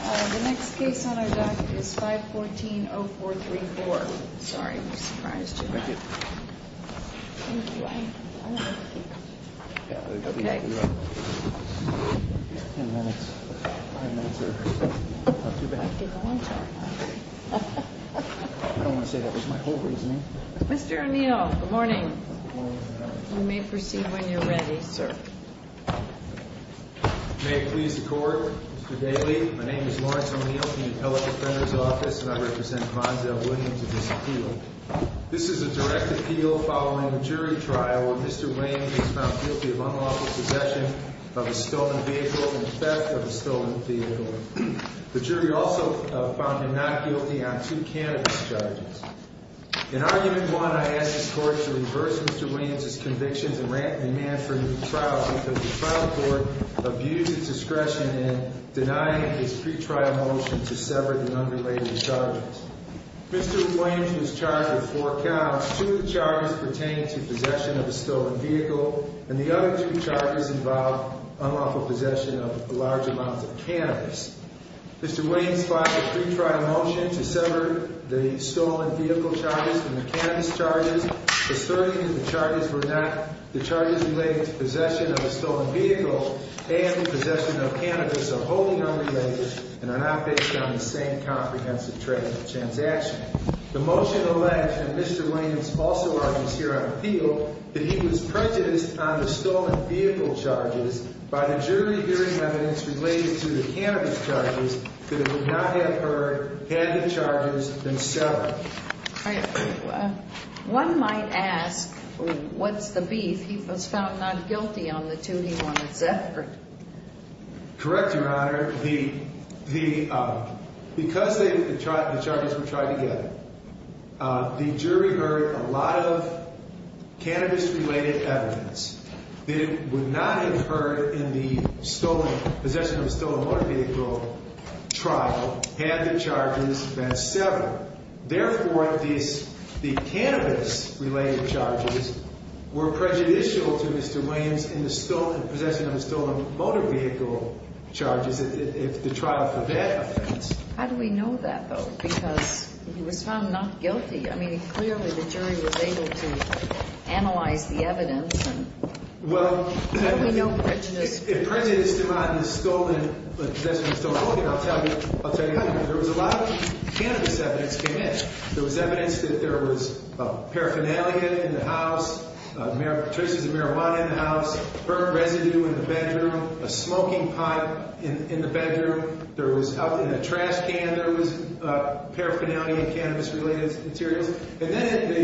The next case on our docket is 514-0434. Mr. O'Neill, good morning. You may proceed when you're ready, sir. May it please the Court, Mr. Daley. My name is Lawrence O'Neill from the Appellate Defender's Office, and I represent Monzell Williams in this appeal. This is a direct appeal following a jury trial where Mr. Williams was found guilty of unlawful possession of a stolen vehicle and theft of a stolen vehicle. The jury also found him not guilty on two cannabis charges. In Argument 1, I ask the Court to reverse Mr. Williams' convictions and demand for a new trial because the trial court abused its discretion in denying his pre-trial motion to sever the underlaying charges. Mr. Williams was charged with four counts. Two charges pertain to possession of a stolen vehicle, and the other two charges involve unlawful possession of large amounts of cannabis. Mr. Williams filed a pre-trial motion to sever the stolen vehicle charges from the cannabis charges, asserting that the charges relating to possession of a stolen vehicle and possession of cannabis are wholly unrelated and are not based on the same comprehensive trade transaction. The motion alleged that Mr. Williams also argues here on appeal that he was prejudiced on the stolen vehicle charges by the jury hearing evidence related to the cannabis charges, that it would not have occurred had the charges been severed. One might ask, what's the beef? He was found not guilty on the two he wanted severed. Correct, Your Honor. Because the charges were tied together, the jury heard a lot of cannabis-related evidence that it would not have occurred in the possession of a stolen motor vehicle trial had the charges been severed. Therefore, the cannabis-related charges were prejudicial to Mr. Williams in the possession of the stolen motor vehicle charges if the trial forbade offense. How do we know that, though? Because he was found not guilty. I mean, clearly the jury was able to analyze the evidence. How do we know prejudiced? If prejudiced to possession of a stolen motor vehicle, I'll tell you how. There was a lot of cannabis evidence that came in. There was evidence that there was paraphernalia in the house, traces of marijuana in the house, burned residue in the bedroom, a smoking pipe in the bedroom. In a trash can, there was paraphernalia, cannabis-related materials. And then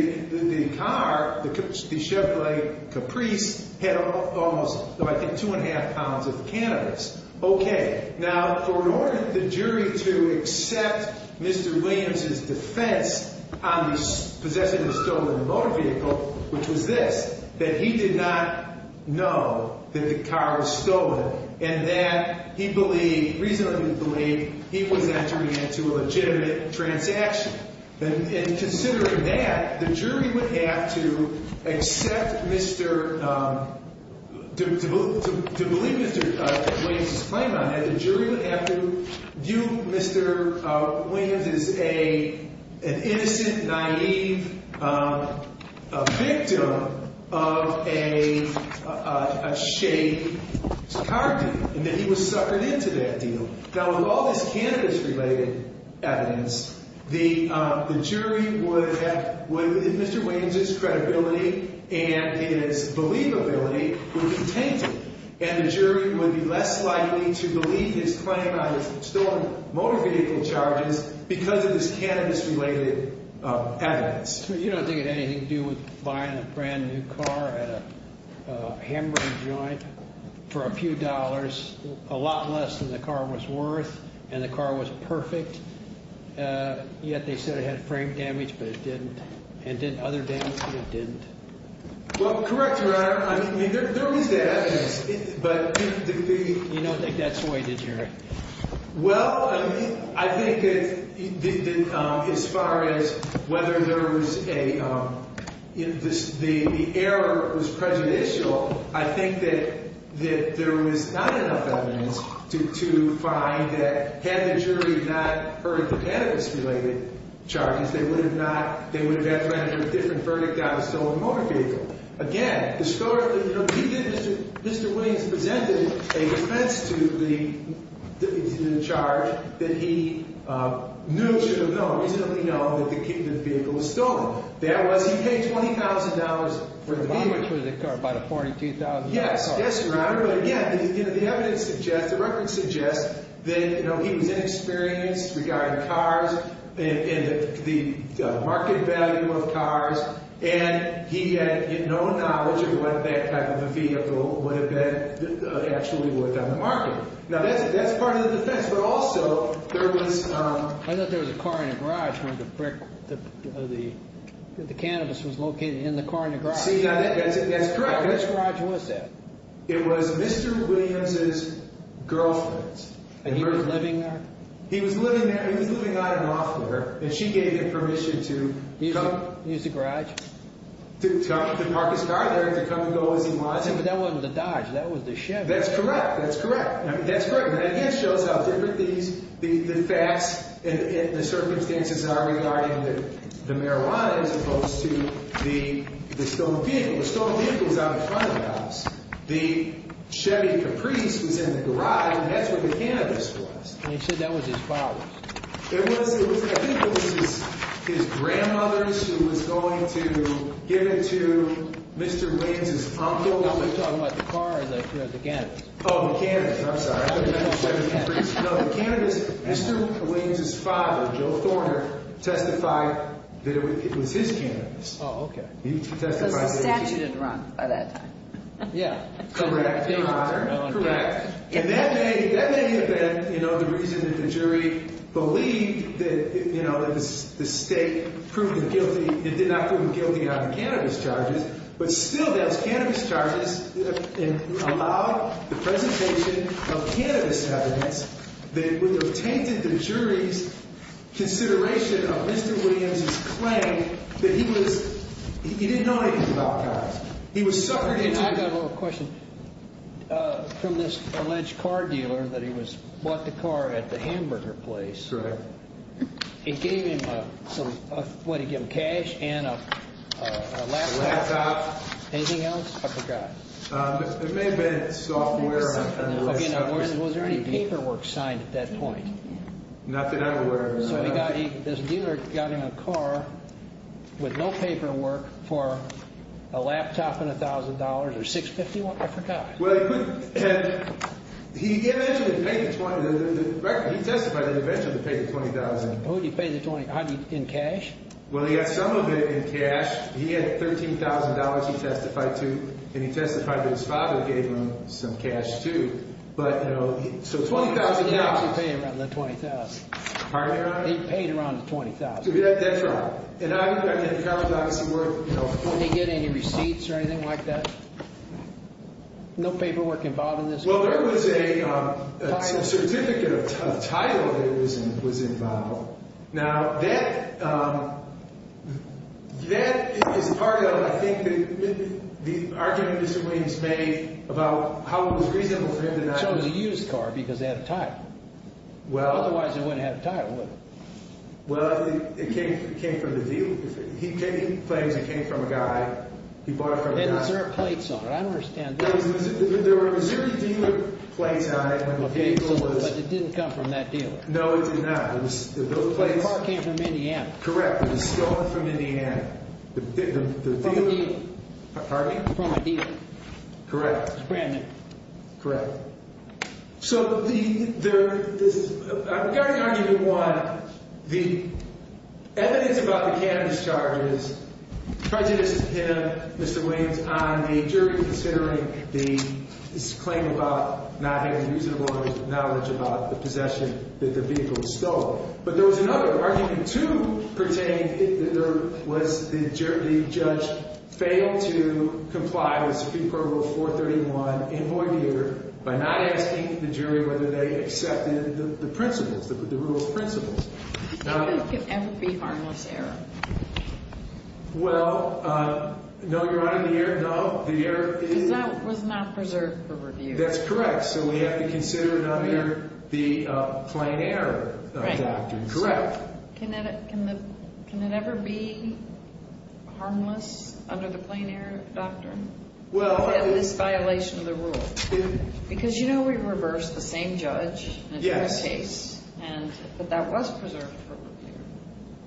the car, the Chevrolet Caprice, had almost, I think, two and a half pounds of cannabis. Okay. Now, in order for the jury to accept Mr. Williams' defense on the possession of a stolen motor vehicle, which was this, that he did not know that the car was stolen and that he reasonably believed he was entering into a legitimate transaction. And considering that, the jury would have to accept Mr. – to believe Mr. Williams' claim on it. The jury would have to view Mr. Williams as an innocent, naive victim of a shade car deal and that he was suckered into that deal. Now, with all this cannabis-related evidence, the jury would have – Mr. Williams' credibility and his believability would be tainted. And the jury would be less likely to believe his claim on his stolen motor vehicle charges because of this cannabis-related evidence. You don't think it had anything to do with buying a brand-new car at a hamburger joint for a few dollars, a lot less than the car was worth, and the car was perfect, yet they said it had frame damage, but it didn't. It did other damage, but it didn't. Well, correct, Your Honor. I mean, there was that evidence, but the – You don't think that swayed the jury? Well, I mean, I think that as far as whether there was a – the error was prejudicial. I think that there was not enough evidence to find that had the jury not heard the cannabis-related charges, they would have not – they would have had to enter a different verdict on a stolen motor vehicle. Again, the scholar – he did – Mr. Williams presented a defense to the charge that he knew, should have known, reasonably known that the vehicle was stolen. That was he paid $20,000 for the vehicle. Which was a car, about a $42,000 car. Yes. Yes, Your Honor. The evidence suggests – the record suggests that he was inexperienced regarding cars and the market value of cars, and he had no knowledge of what that type of a vehicle would have been actually worth on the market. Now, that's part of the defense, but also there was – I thought there was a car in a garage when the cannabis was located in the car in the garage. See, that's correct. Which garage was that? It was Mr. Williams' girlfriend's. And he was living there? He was living there – he was living on and off of her, and she gave him permission to come – Use the garage? To park his car there and to come and go as he wanted. But that wasn't the Dodge. That was the Chevy. That's correct. That's correct. That again shows how different these – the facts and the circumstances are regarding the marijuana as opposed to the stolen vehicle. The stolen vehicle was out in front of the house. The Chevy Caprice was in the garage, and that's where the cannabis was. And he said that was his father's. It was – I think it was his grandmother's who was going to give it to Mr. Williams' uncle. Are we talking about the car or the cannabis? Oh, the cannabis. I'm sorry. No, the cannabis – Mr. Williams' father, Joe Thorner, testified that it was his cannabis. Oh, okay. He testified – So the statute had run by that time. Yeah. Correct, Your Honor. Correct. And that may have been, you know, the reason that the jury believed that, you know, it was the state proving guilty – it did not prove guilty on the cannabis charges, but still those cannabis charges allowed the presentation of cannabis evidence that would have tainted the jury's consideration of Mr. Williams' claim that he was – he didn't know anything about cars. He was suffering – And I've got a little question. From this alleged car dealer that he was – bought the car at the hamburger place. Correct. It gave him a – what did he give him, cash and a laptop? Laptop. Anything else? I forgot. It may have been software. Again, was there any paperwork signed at that point? Nothing I'm aware of. So he got – this dealer got him a car with no paperwork for a laptop and $1,000 or $650? I forgot. He eventually paid the – he testified that he eventually paid the $20,000. Who did he pay the – in cash? Well, he got some of it in cash. He had $13,000 he testified to, and he testified that his father gave him some cash, too. But, you know, so $20,000 – He actually paid around the $20,000. Pardon me, Your Honor? He paid around the $20,000. That's right. Did he get any receipts or anything like that? No paperwork involved in this case? Well, there was a certificate of title that was involved. Now, that is part of, I think, the argument Mr. Williams made about how it was reasonable for him to not use – So it was a used car because it had a title. Well – Otherwise, it wouldn't have a title, would it? Well, it came from the dealer. He claims it came from a guy. He bought it from a guy. Then is there a plates on it? I don't understand this. There were Missouri dealer plates on it when the vehicle was – But it didn't come from that dealer. No, it did not. It was – those plates – The car came from Indiana. Correct. It was stolen from Indiana. The dealer – From a dealer. Pardon me? From a dealer. Correct. It was brand new. Correct. So the – there – this is – regarding argument one, the evidence about the cannabis charges prejudiced him, Mr. Williams, on the jury, considering the – his claim about not having reasonable knowledge about the possession that the vehicle was stolen. But there was another. Argument two pertained that there was – the judge failed to comply with Supreme Court Rule 431 in voir dire by not asking the jury whether they accepted the principles, the rule of principles. Well, no, Your Honor. The error – no. The error is – Because that was not preserved for review. That's correct. So we have to consider it under the plain error doctrine. Correct. Correct. Can it – can the – can it ever be harmless under the plain error doctrine? Well, I – This violation of the rule. Because you know we reversed the same judge in a different case. Yes. And – but that was preserved for review,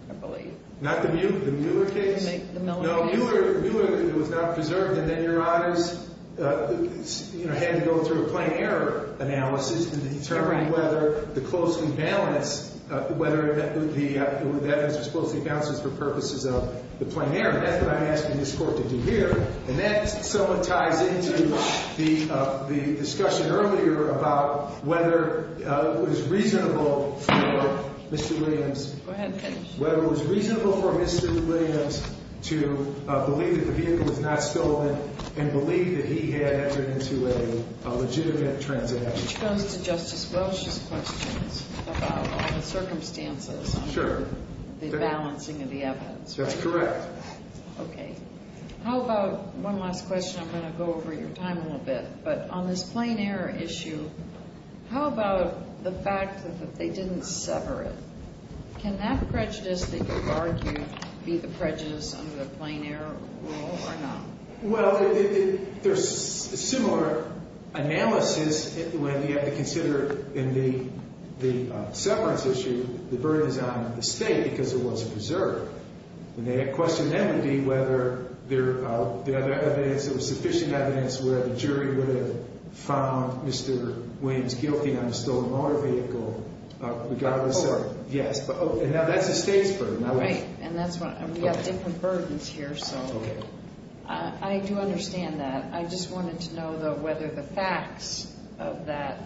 I believe. Not the Mueller case? The Miller case? It was not preserved. And then Your Honors, you know, had to go through a plain error analysis to determine whether the closely balanced – whether the evidence was closely balanced for purposes of the plain error. That's what I'm asking this Court to do here. And that somewhat ties into the discussion earlier about whether it was reasonable for Mr. Williams – Go ahead. Whether it was reasonable for Mr. Williams to believe that the vehicle was not stolen and believe that he had entered into a legitimate transaction. Which goes to Justice Welch's questions about the circumstances. Sure. The balancing of the evidence. That's correct. Okay. How about – one last question. I'm going to go over your time a little bit. But on this plain error issue, how about the fact that they didn't sever it? Can that prejudice that you've argued be the prejudice under the plain error rule or not? Well, there's a similar analysis when you have to consider in the severance issue the burden is on the State because it wasn't preserved. And the question then would be whether there was sufficient evidence where the jury would have found Mr. Williams guilty on the stolen motor vehicle regardless of – Oh, right. Yes. And now that's the State's burden. Right. And we have different burdens here, so I do understand that. I just wanted to know, though, whether the facts of that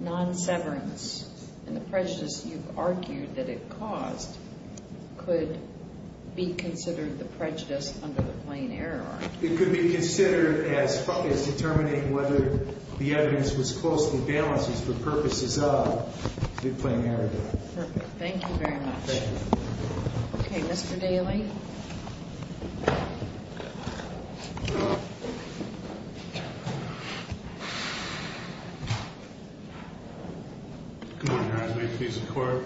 non-severance and the prejudice you've argued that it caused could be considered the prejudice under the plain error rule. It could be considered as determining whether the evidence was closely balanced for purposes of the plain error rule. Perfect. Thank you very much. Thank you. Okay. Mr. Daley? Good morning, Your Honor. May it please the Court?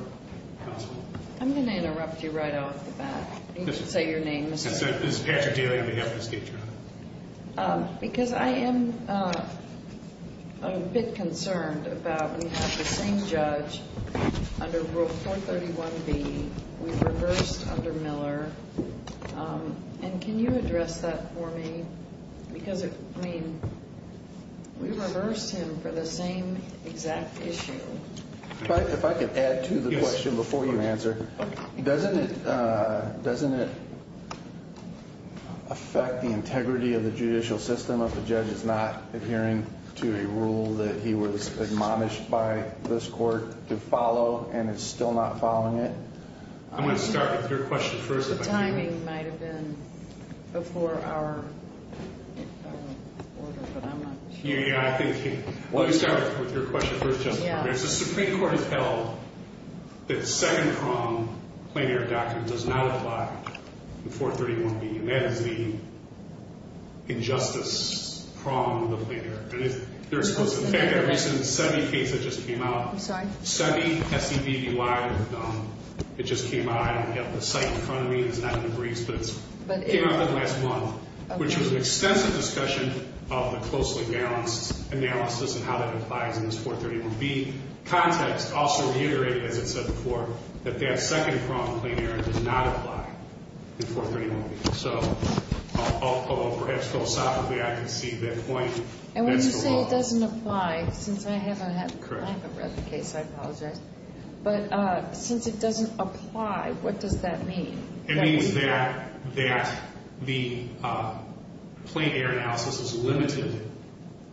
Counsel? I'm going to interrupt you right off the bat. You can say your name, Mr. – This is Patrick Daley on behalf of the State Jury. Because I am a bit concerned about we have the same judge under Rule 431B. We reversed under Miller. And can you address that for me? Because, I mean, we reversed him for the same exact issue. If I could add to the question before you answer. Okay. Doesn't it affect the integrity of the judicial system if a judge is not adhering to a rule that he was admonished by this court to follow and is still not following it? I'm going to start with your question first. The timing might have been before our order, but I'm not sure. Yeah, yeah. Let me start with your question first, Justice Barber. The Supreme Court has held that second-pronged plenary doctrine does not apply in 431B. And that is the injustice prong of the plenary. And there's a recent SETI case that just came out. I'm sorry? SETI, S-E-T-I. It just came out. I don't have the site in front of me. It's not in the briefs, but it came out last month. Which was an extensive discussion of the closely-balanced analysis and how that applies in this 431B. Context also reiterated, as it said before, that that second-pronged plenary does not apply in 431B. So perhaps philosophically I can see that point. And when you say it doesn't apply, since I haven't read the case, I apologize. But since it doesn't apply, what does that mean? It means that the plenary analysis is limited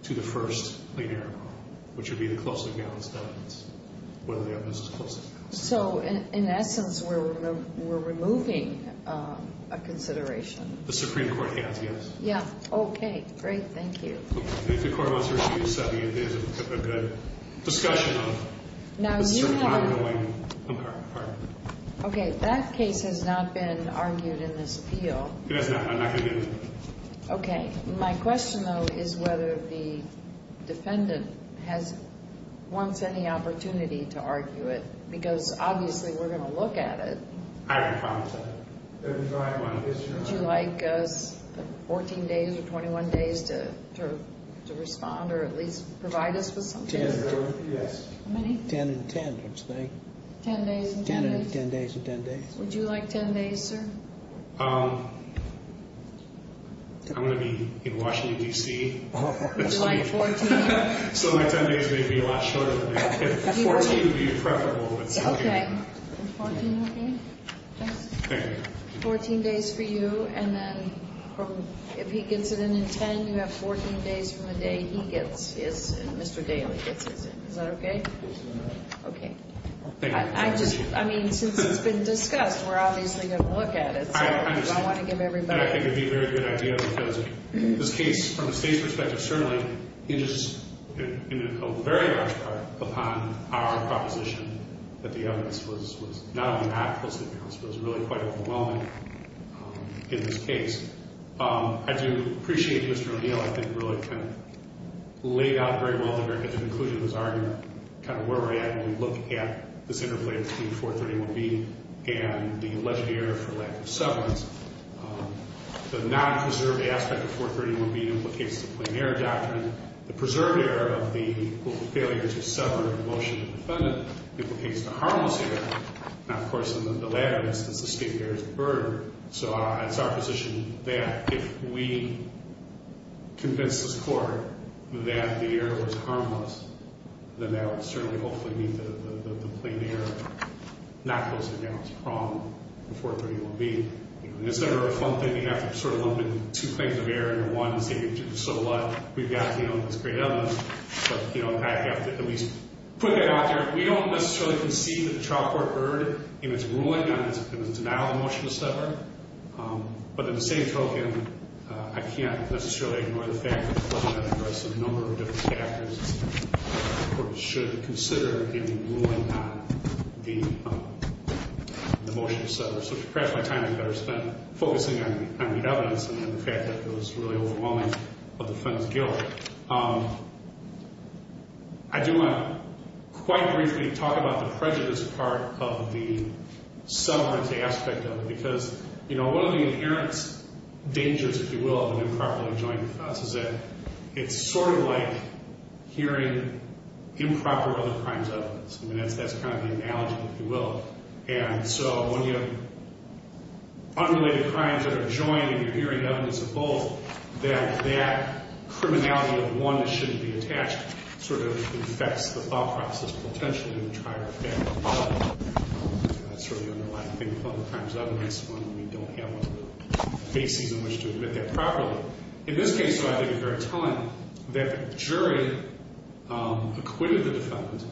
to the first plenary prong, which would be the closely-balanced evidence, whether the evidence is closely-balanced. So, in essence, we're removing a consideration. The Supreme Court has, yes. Okay. Great. Thank you. If the Court wants to review SETI, it is a good discussion of the Supreme Court ruling. Okay. That case has not been argued in this appeal. It has not. I'm not going to get into it. Okay. My question, though, is whether the defendant wants any opportunity to argue it. Because, obviously, we're going to look at it. I haven't commented on it. Would you like us 14 days or 21 days to respond or at least provide us with something? Yes. How many? Ten and ten, I would say. Ten days and ten days? Ten days and ten days. Would you like ten days, sir? I'm going to be in Washington, D.C. Would you like 14 days? So my ten days may be a lot shorter than that. Fourteen would be preferable. Okay. Fourteen, okay. Thanks. Thank you. Fourteen days for you. And then if he gets it in in ten, you have 14 days from the day he gets his and Mr. Daly gets his in. Is that okay? Yes, Your Honor. Okay. Thank you. I just, I mean, since it's been discussed, we're obviously going to look at it. I understand. So I want to give everybody. I think it would be a very good idea because this case, from the State's perspective, certainly hinges in a very large part upon our proposition that the evidence was not only that, but was really quite overwhelming in this case. I do appreciate Mr. O'Neill, I think, really kind of laid out very well the very conclusion of his argument, kind of where we're at when we look at this interplay between 431B and the alleged error for lack of severance. The non-preserved aspect of 431B implicates the plain error doctrine. The preserved error of the failure to sever the motion of the defendant implicates the harmless error. Now, of course, in the latter instance, the state bears the burden. So it's our position that if we convince this Court that the error was harmless, then that would certainly hopefully mean that the plain error not posted down is wrong in 431B. This is a fun thing. You have to sort of lump in two claims of error into one and say, so what? We've got this great evidence, but I have to at least put that out there. We don't necessarily concede that the trial court heard in its ruling on its denial of the motion to sever, but in the same token, I can't necessarily ignore the fact that the Court had to address a number of different factors that the Court should consider in ruling on the motion to sever. So perhaps my time would be better spent focusing on the evidence than on the fact that it was really overwhelming of the defendant's guilt. I do want to quite briefly talk about the prejudice part of the severance aspect of it, because one of the inherent dangers, if you will, of an improperly joined defense is that it's sort of like hearing improper other crimes of evidence. I mean, that's kind of the analogy, if you will. And so when you have unrelated crimes that are joined and you're hearing evidence of both, that that criminality of one that shouldn't be attached sort of affects the thought process potentially in the trial effect. That's sort of the underlying thing with other crimes of evidence when we don't have one of the bases in which to admit that properly. In this case, though, I think it's very telling that the jury acquitted the defendant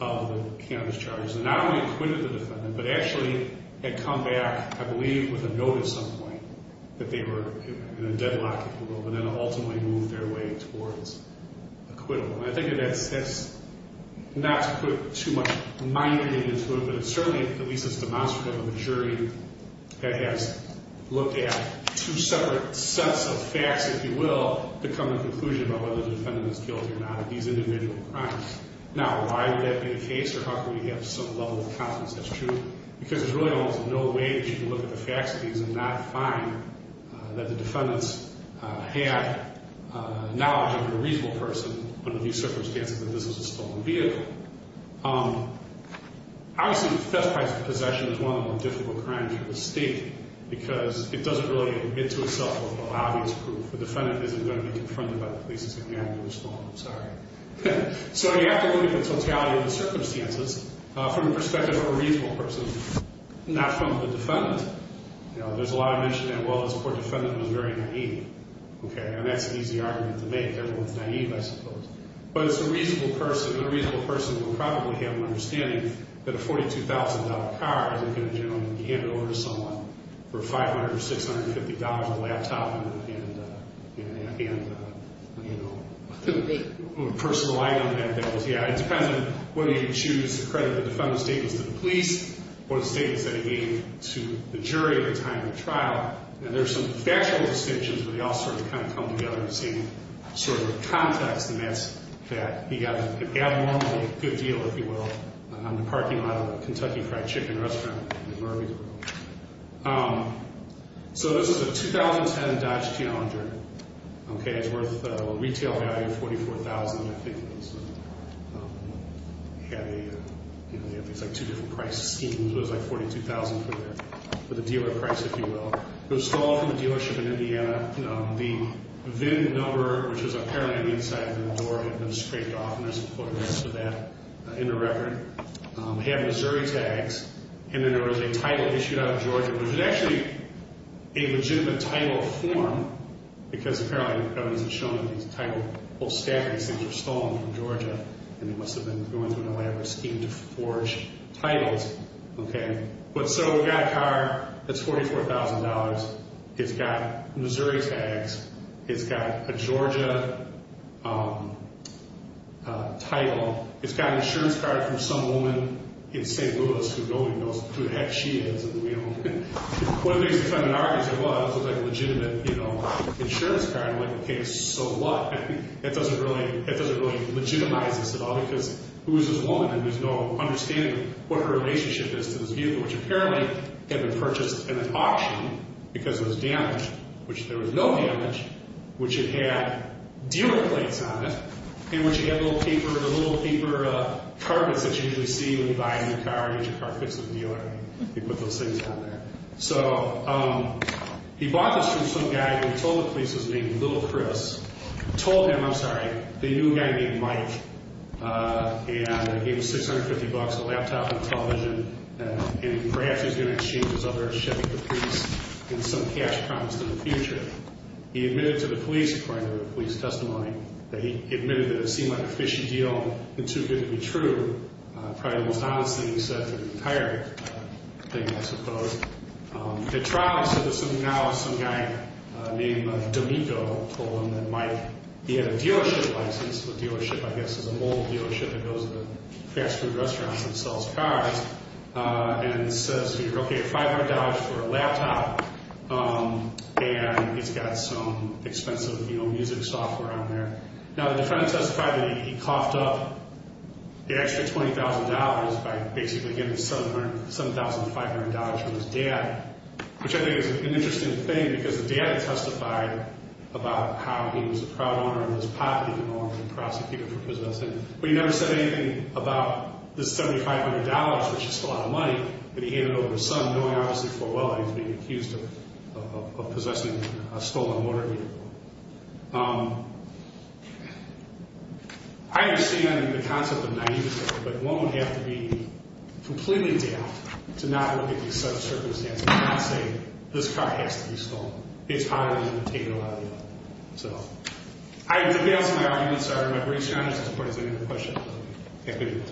of the cannabis charges, and not only acquitted the defendant, but actually had come back, I believe, with a note at some point that they were in a deadlock, if you will, but then ultimately moved their way towards acquittal. And I think that that's not to put too much money into it, but it's certainly at least it's demonstrable that the jury has looked at two separate sets of facts, if you will, to come to the conclusion about whether the defendant is guilty or not of these individual crimes. Now, why would that be the case, or how can we have some level of confidence that's true? Because there's really almost no way that you can look at the facts of these and not find that the defendants had knowledge of a reasonable person, under these circumstances, that this was a stolen vehicle. Obviously, the theft price of possession is one of the more difficult crimes of the state, because it doesn't really admit to itself what the lobby is proving. The defendant isn't going to be confronted by the police and say, ma'am, you were stolen. I'm sorry. So you have to look at the totality of the circumstances from the perspective of a reasonable person, not from the defendant. There's a lot of mention that, well, this poor defendant was very naive, and that's an easy argument to make. Everyone's naive, I suppose. But it's a reasonable person, and a reasonable person will probably have an understanding that a $42,000 car isn't going to generally be handed over to someone for $500 or $650 on a laptop and, you know, a personal item. Yeah, it depends on whether you choose to credit the defendant's statements to the police or the statements that he gave to the jury at the time of the trial. And there's some factual distinctions where they all sort of kind of come together in the same sort of context, and that's that he got an abnormally good deal, if you will, on the parking lot of a Kentucky Fried Chicken restaurant in Murryville. So this is a 2010 Dodge Challenger. Okay, it's worth a retail value of $44,000, I think it is. They have these, like, two different price schemes. It was, like, $42,000 for the dealer price, if you will. It was stolen from a dealership in Indiana. The VIN number, which was apparently on the inside of the door, had been scraped off, and there's a photograph of that in the record. It had Missouri tags, and then there was a title issued out of Georgia. It was actually a legitimate title form because apparently the evidence had shown that these title whole stackings, these were stolen from Georgia, and they must have been going through an elaborate scheme to forge titles. Okay, but so we've got a car that's $44,000. It's got Missouri tags. It's got a Georgia title. It's got an insurance card from some woman in St. Louis who knows who the heck she is, and we don't know. One of the things that kind of argues it was, it was, like, a legitimate insurance card. I'm like, okay, so what? That doesn't really legitimize this at all because who is this woman, and there's no understanding of what her relationship is to this vehicle, which apparently had been purchased in an auction because it was damaged, which there was no damage, which it had dealer plates on it, and which had little paper carpets that you usually see when you buy a new car, and your car fits in the dealer. They put those things on there. So he bought this from some guy who he told the police was named Little Chris, told him, I'm sorry, they knew a guy named Mike, and gave him $650, a laptop, a television, and perhaps he was going to exchange this other Chevy Caprice and some cash promised in the future. He admitted to the police, according to the police testimony, that he admitted that it seemed like a fishy deal and too good to be true. Probably the most honest thing he said to the entire thing, I suppose. The trial said that now some guy named D'Amico told him that Mike, he had a dealership license, a dealership, I guess, it was a mobile dealership that goes to fast food restaurants and sells cars, and says, okay, $500 for a laptop, and it's got some expensive music software on there. Now the defendant testified that he coughed up the extra $20,000 by basically getting $7,500 from his dad, which I think is an interesting thing because the dad testified about how he was a proud owner of his property and wanted to prosecute him for possessing it. But he never said anything about the $7,500, which is a lot of money, but he handed it over to his son, knowing obviously for a while that he was being accused of possessing a stolen motor vehicle. I understand the concept of naivety, but one would have to be completely deaf to not look at these circumstances and not say, this car has to be stolen. It's probably going to take a lot of money. So I would have failed some of the arguments, but my briefs are honest as far as they go to the question of equity.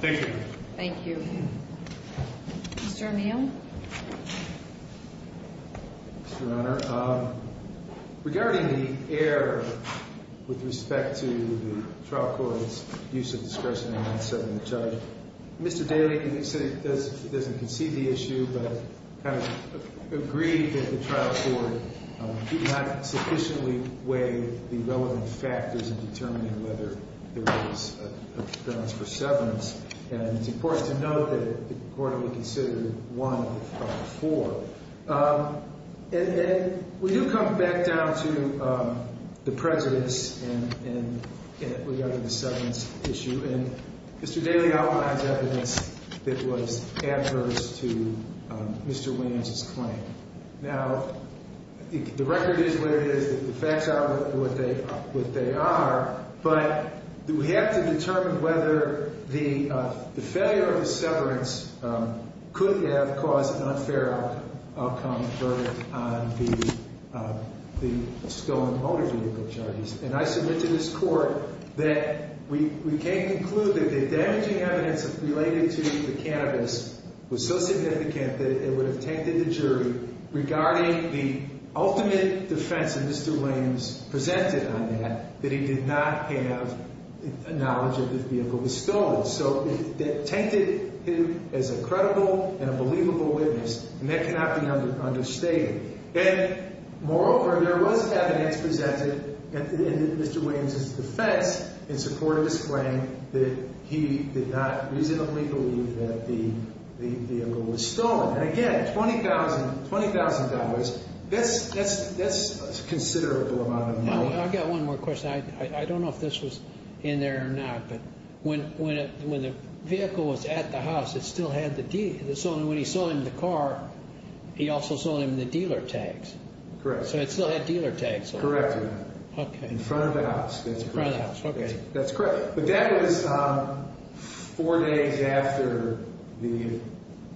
Thank you. Mr. O'Neill? Mr. O'Neill, regarding the error with respect to the trial court's use of discursive names Mr. Daley doesn't concede the issue, but kind of agreed that the trial court did not sufficiently weigh the relevant factors in determining whether there was a grounds for severance. And it's important to note that the court only considered one of the four. And we do come back down to the precedence regarding the severance issue. And Mr. Daley outlines evidence that was adverse to Mr. Williams' claim. Now, the record is what it is. The facts are what they are. But we have to determine whether the failure of the severance could have caused an unfair outcome for the stolen motor vehicle charges. And I submit to this court that we can't conclude that the damaging evidence related to the cannabis was so significant that it would have tainted the jury regarding the ultimate defense that Mr. Williams presented on that, that he did not have knowledge of this vehicle was stolen. So it tainted him as a credible and a believable witness. And that cannot be understated. And moreover, there was evidence presented in Mr. Williams' defense in support of his claim that he did not reasonably believe that the vehicle was stolen. And again, $20,000, that's a considerable amount of money. I've got one more question. I don't know if this was in there or not, but when the vehicle was at the house, it still had the deed. It still had dealer tags. Correct. So it still had dealer tags. Correct. Okay. In front of the house. In front of the house. Okay. That's correct. But that was four days after the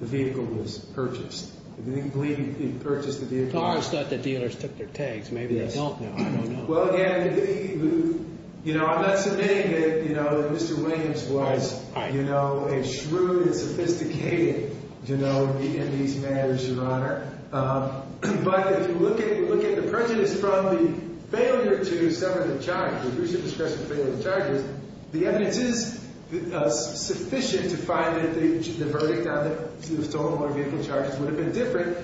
vehicle was purchased. I believe he purchased the vehicle. I thought the dealers took their tags. Maybe they don't now. I don't know. Well, again, you know, I'm not submitting that, you know, But if you look at the prejudice from the failure to sever the charges, the recent discretion to sever the charges, the evidence is sufficient to find that the verdict on the stolen motor vehicle charges would have been different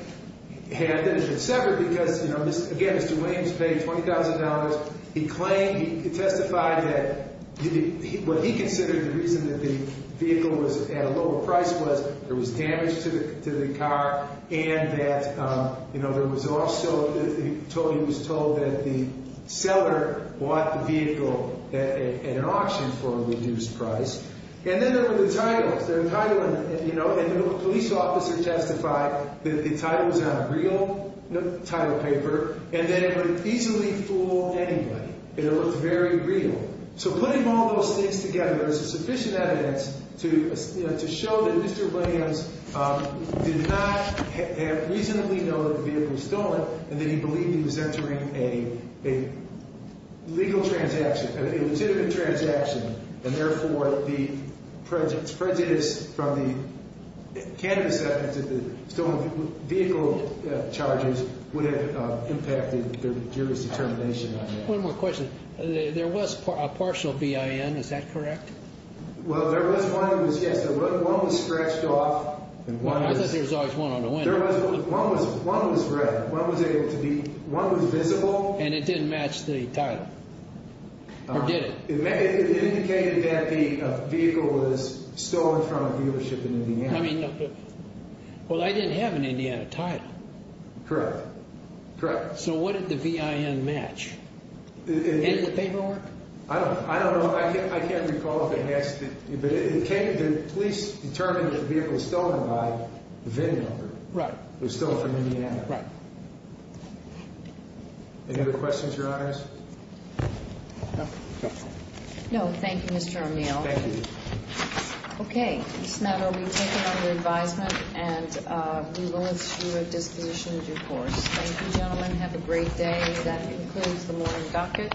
had it been severed because, you know, again, Mr. Williams paid $20,000. He claimed, he testified that what he considered the reason that the vehicle was at a lower price was there was damage to the car and that, you know, there was also, he was told that the seller bought the vehicle at an auction for a reduced price. And then there were the titles. The title, you know, and the police officer testified that the title was on a real title paper and that it would easily fool anybody and it looked very real. So putting all those things together, there's sufficient evidence to show that Mr. Williams did not reasonably know that the vehicle was stolen and that he believed he was entering a legal transaction, a legitimate transaction, and therefore the prejudice from the candidate severance of the stolen vehicle charges would have impacted the jury's determination on that. One more question. There was a partial VIN. Is that correct? Well, there was one that was, yes. One was stretched off. I thought there was always one on the window. One was red. One was visible. And it didn't match the title? Or did it? It indicated that the vehicle was stolen from a dealership in Indiana. Well, I didn't have an Indiana title. Correct. Correct. So what did the VIN match? In the paperwork? I don't know. I can't recall if it matched. But the police determined that the vehicle was stolen by the VIN number. Right. It was stolen from Indiana. Right. Any other questions, Your Honors? No. Thank you, Mr. O'Meal. Thank you. Okay. This matter will be taken under advisement and we will issue a disposition of due course. Thank you, gentlemen. Have a great day. That concludes the morning docket.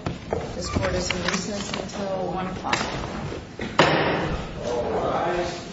This court is in recess until 1 o'clock. All rise.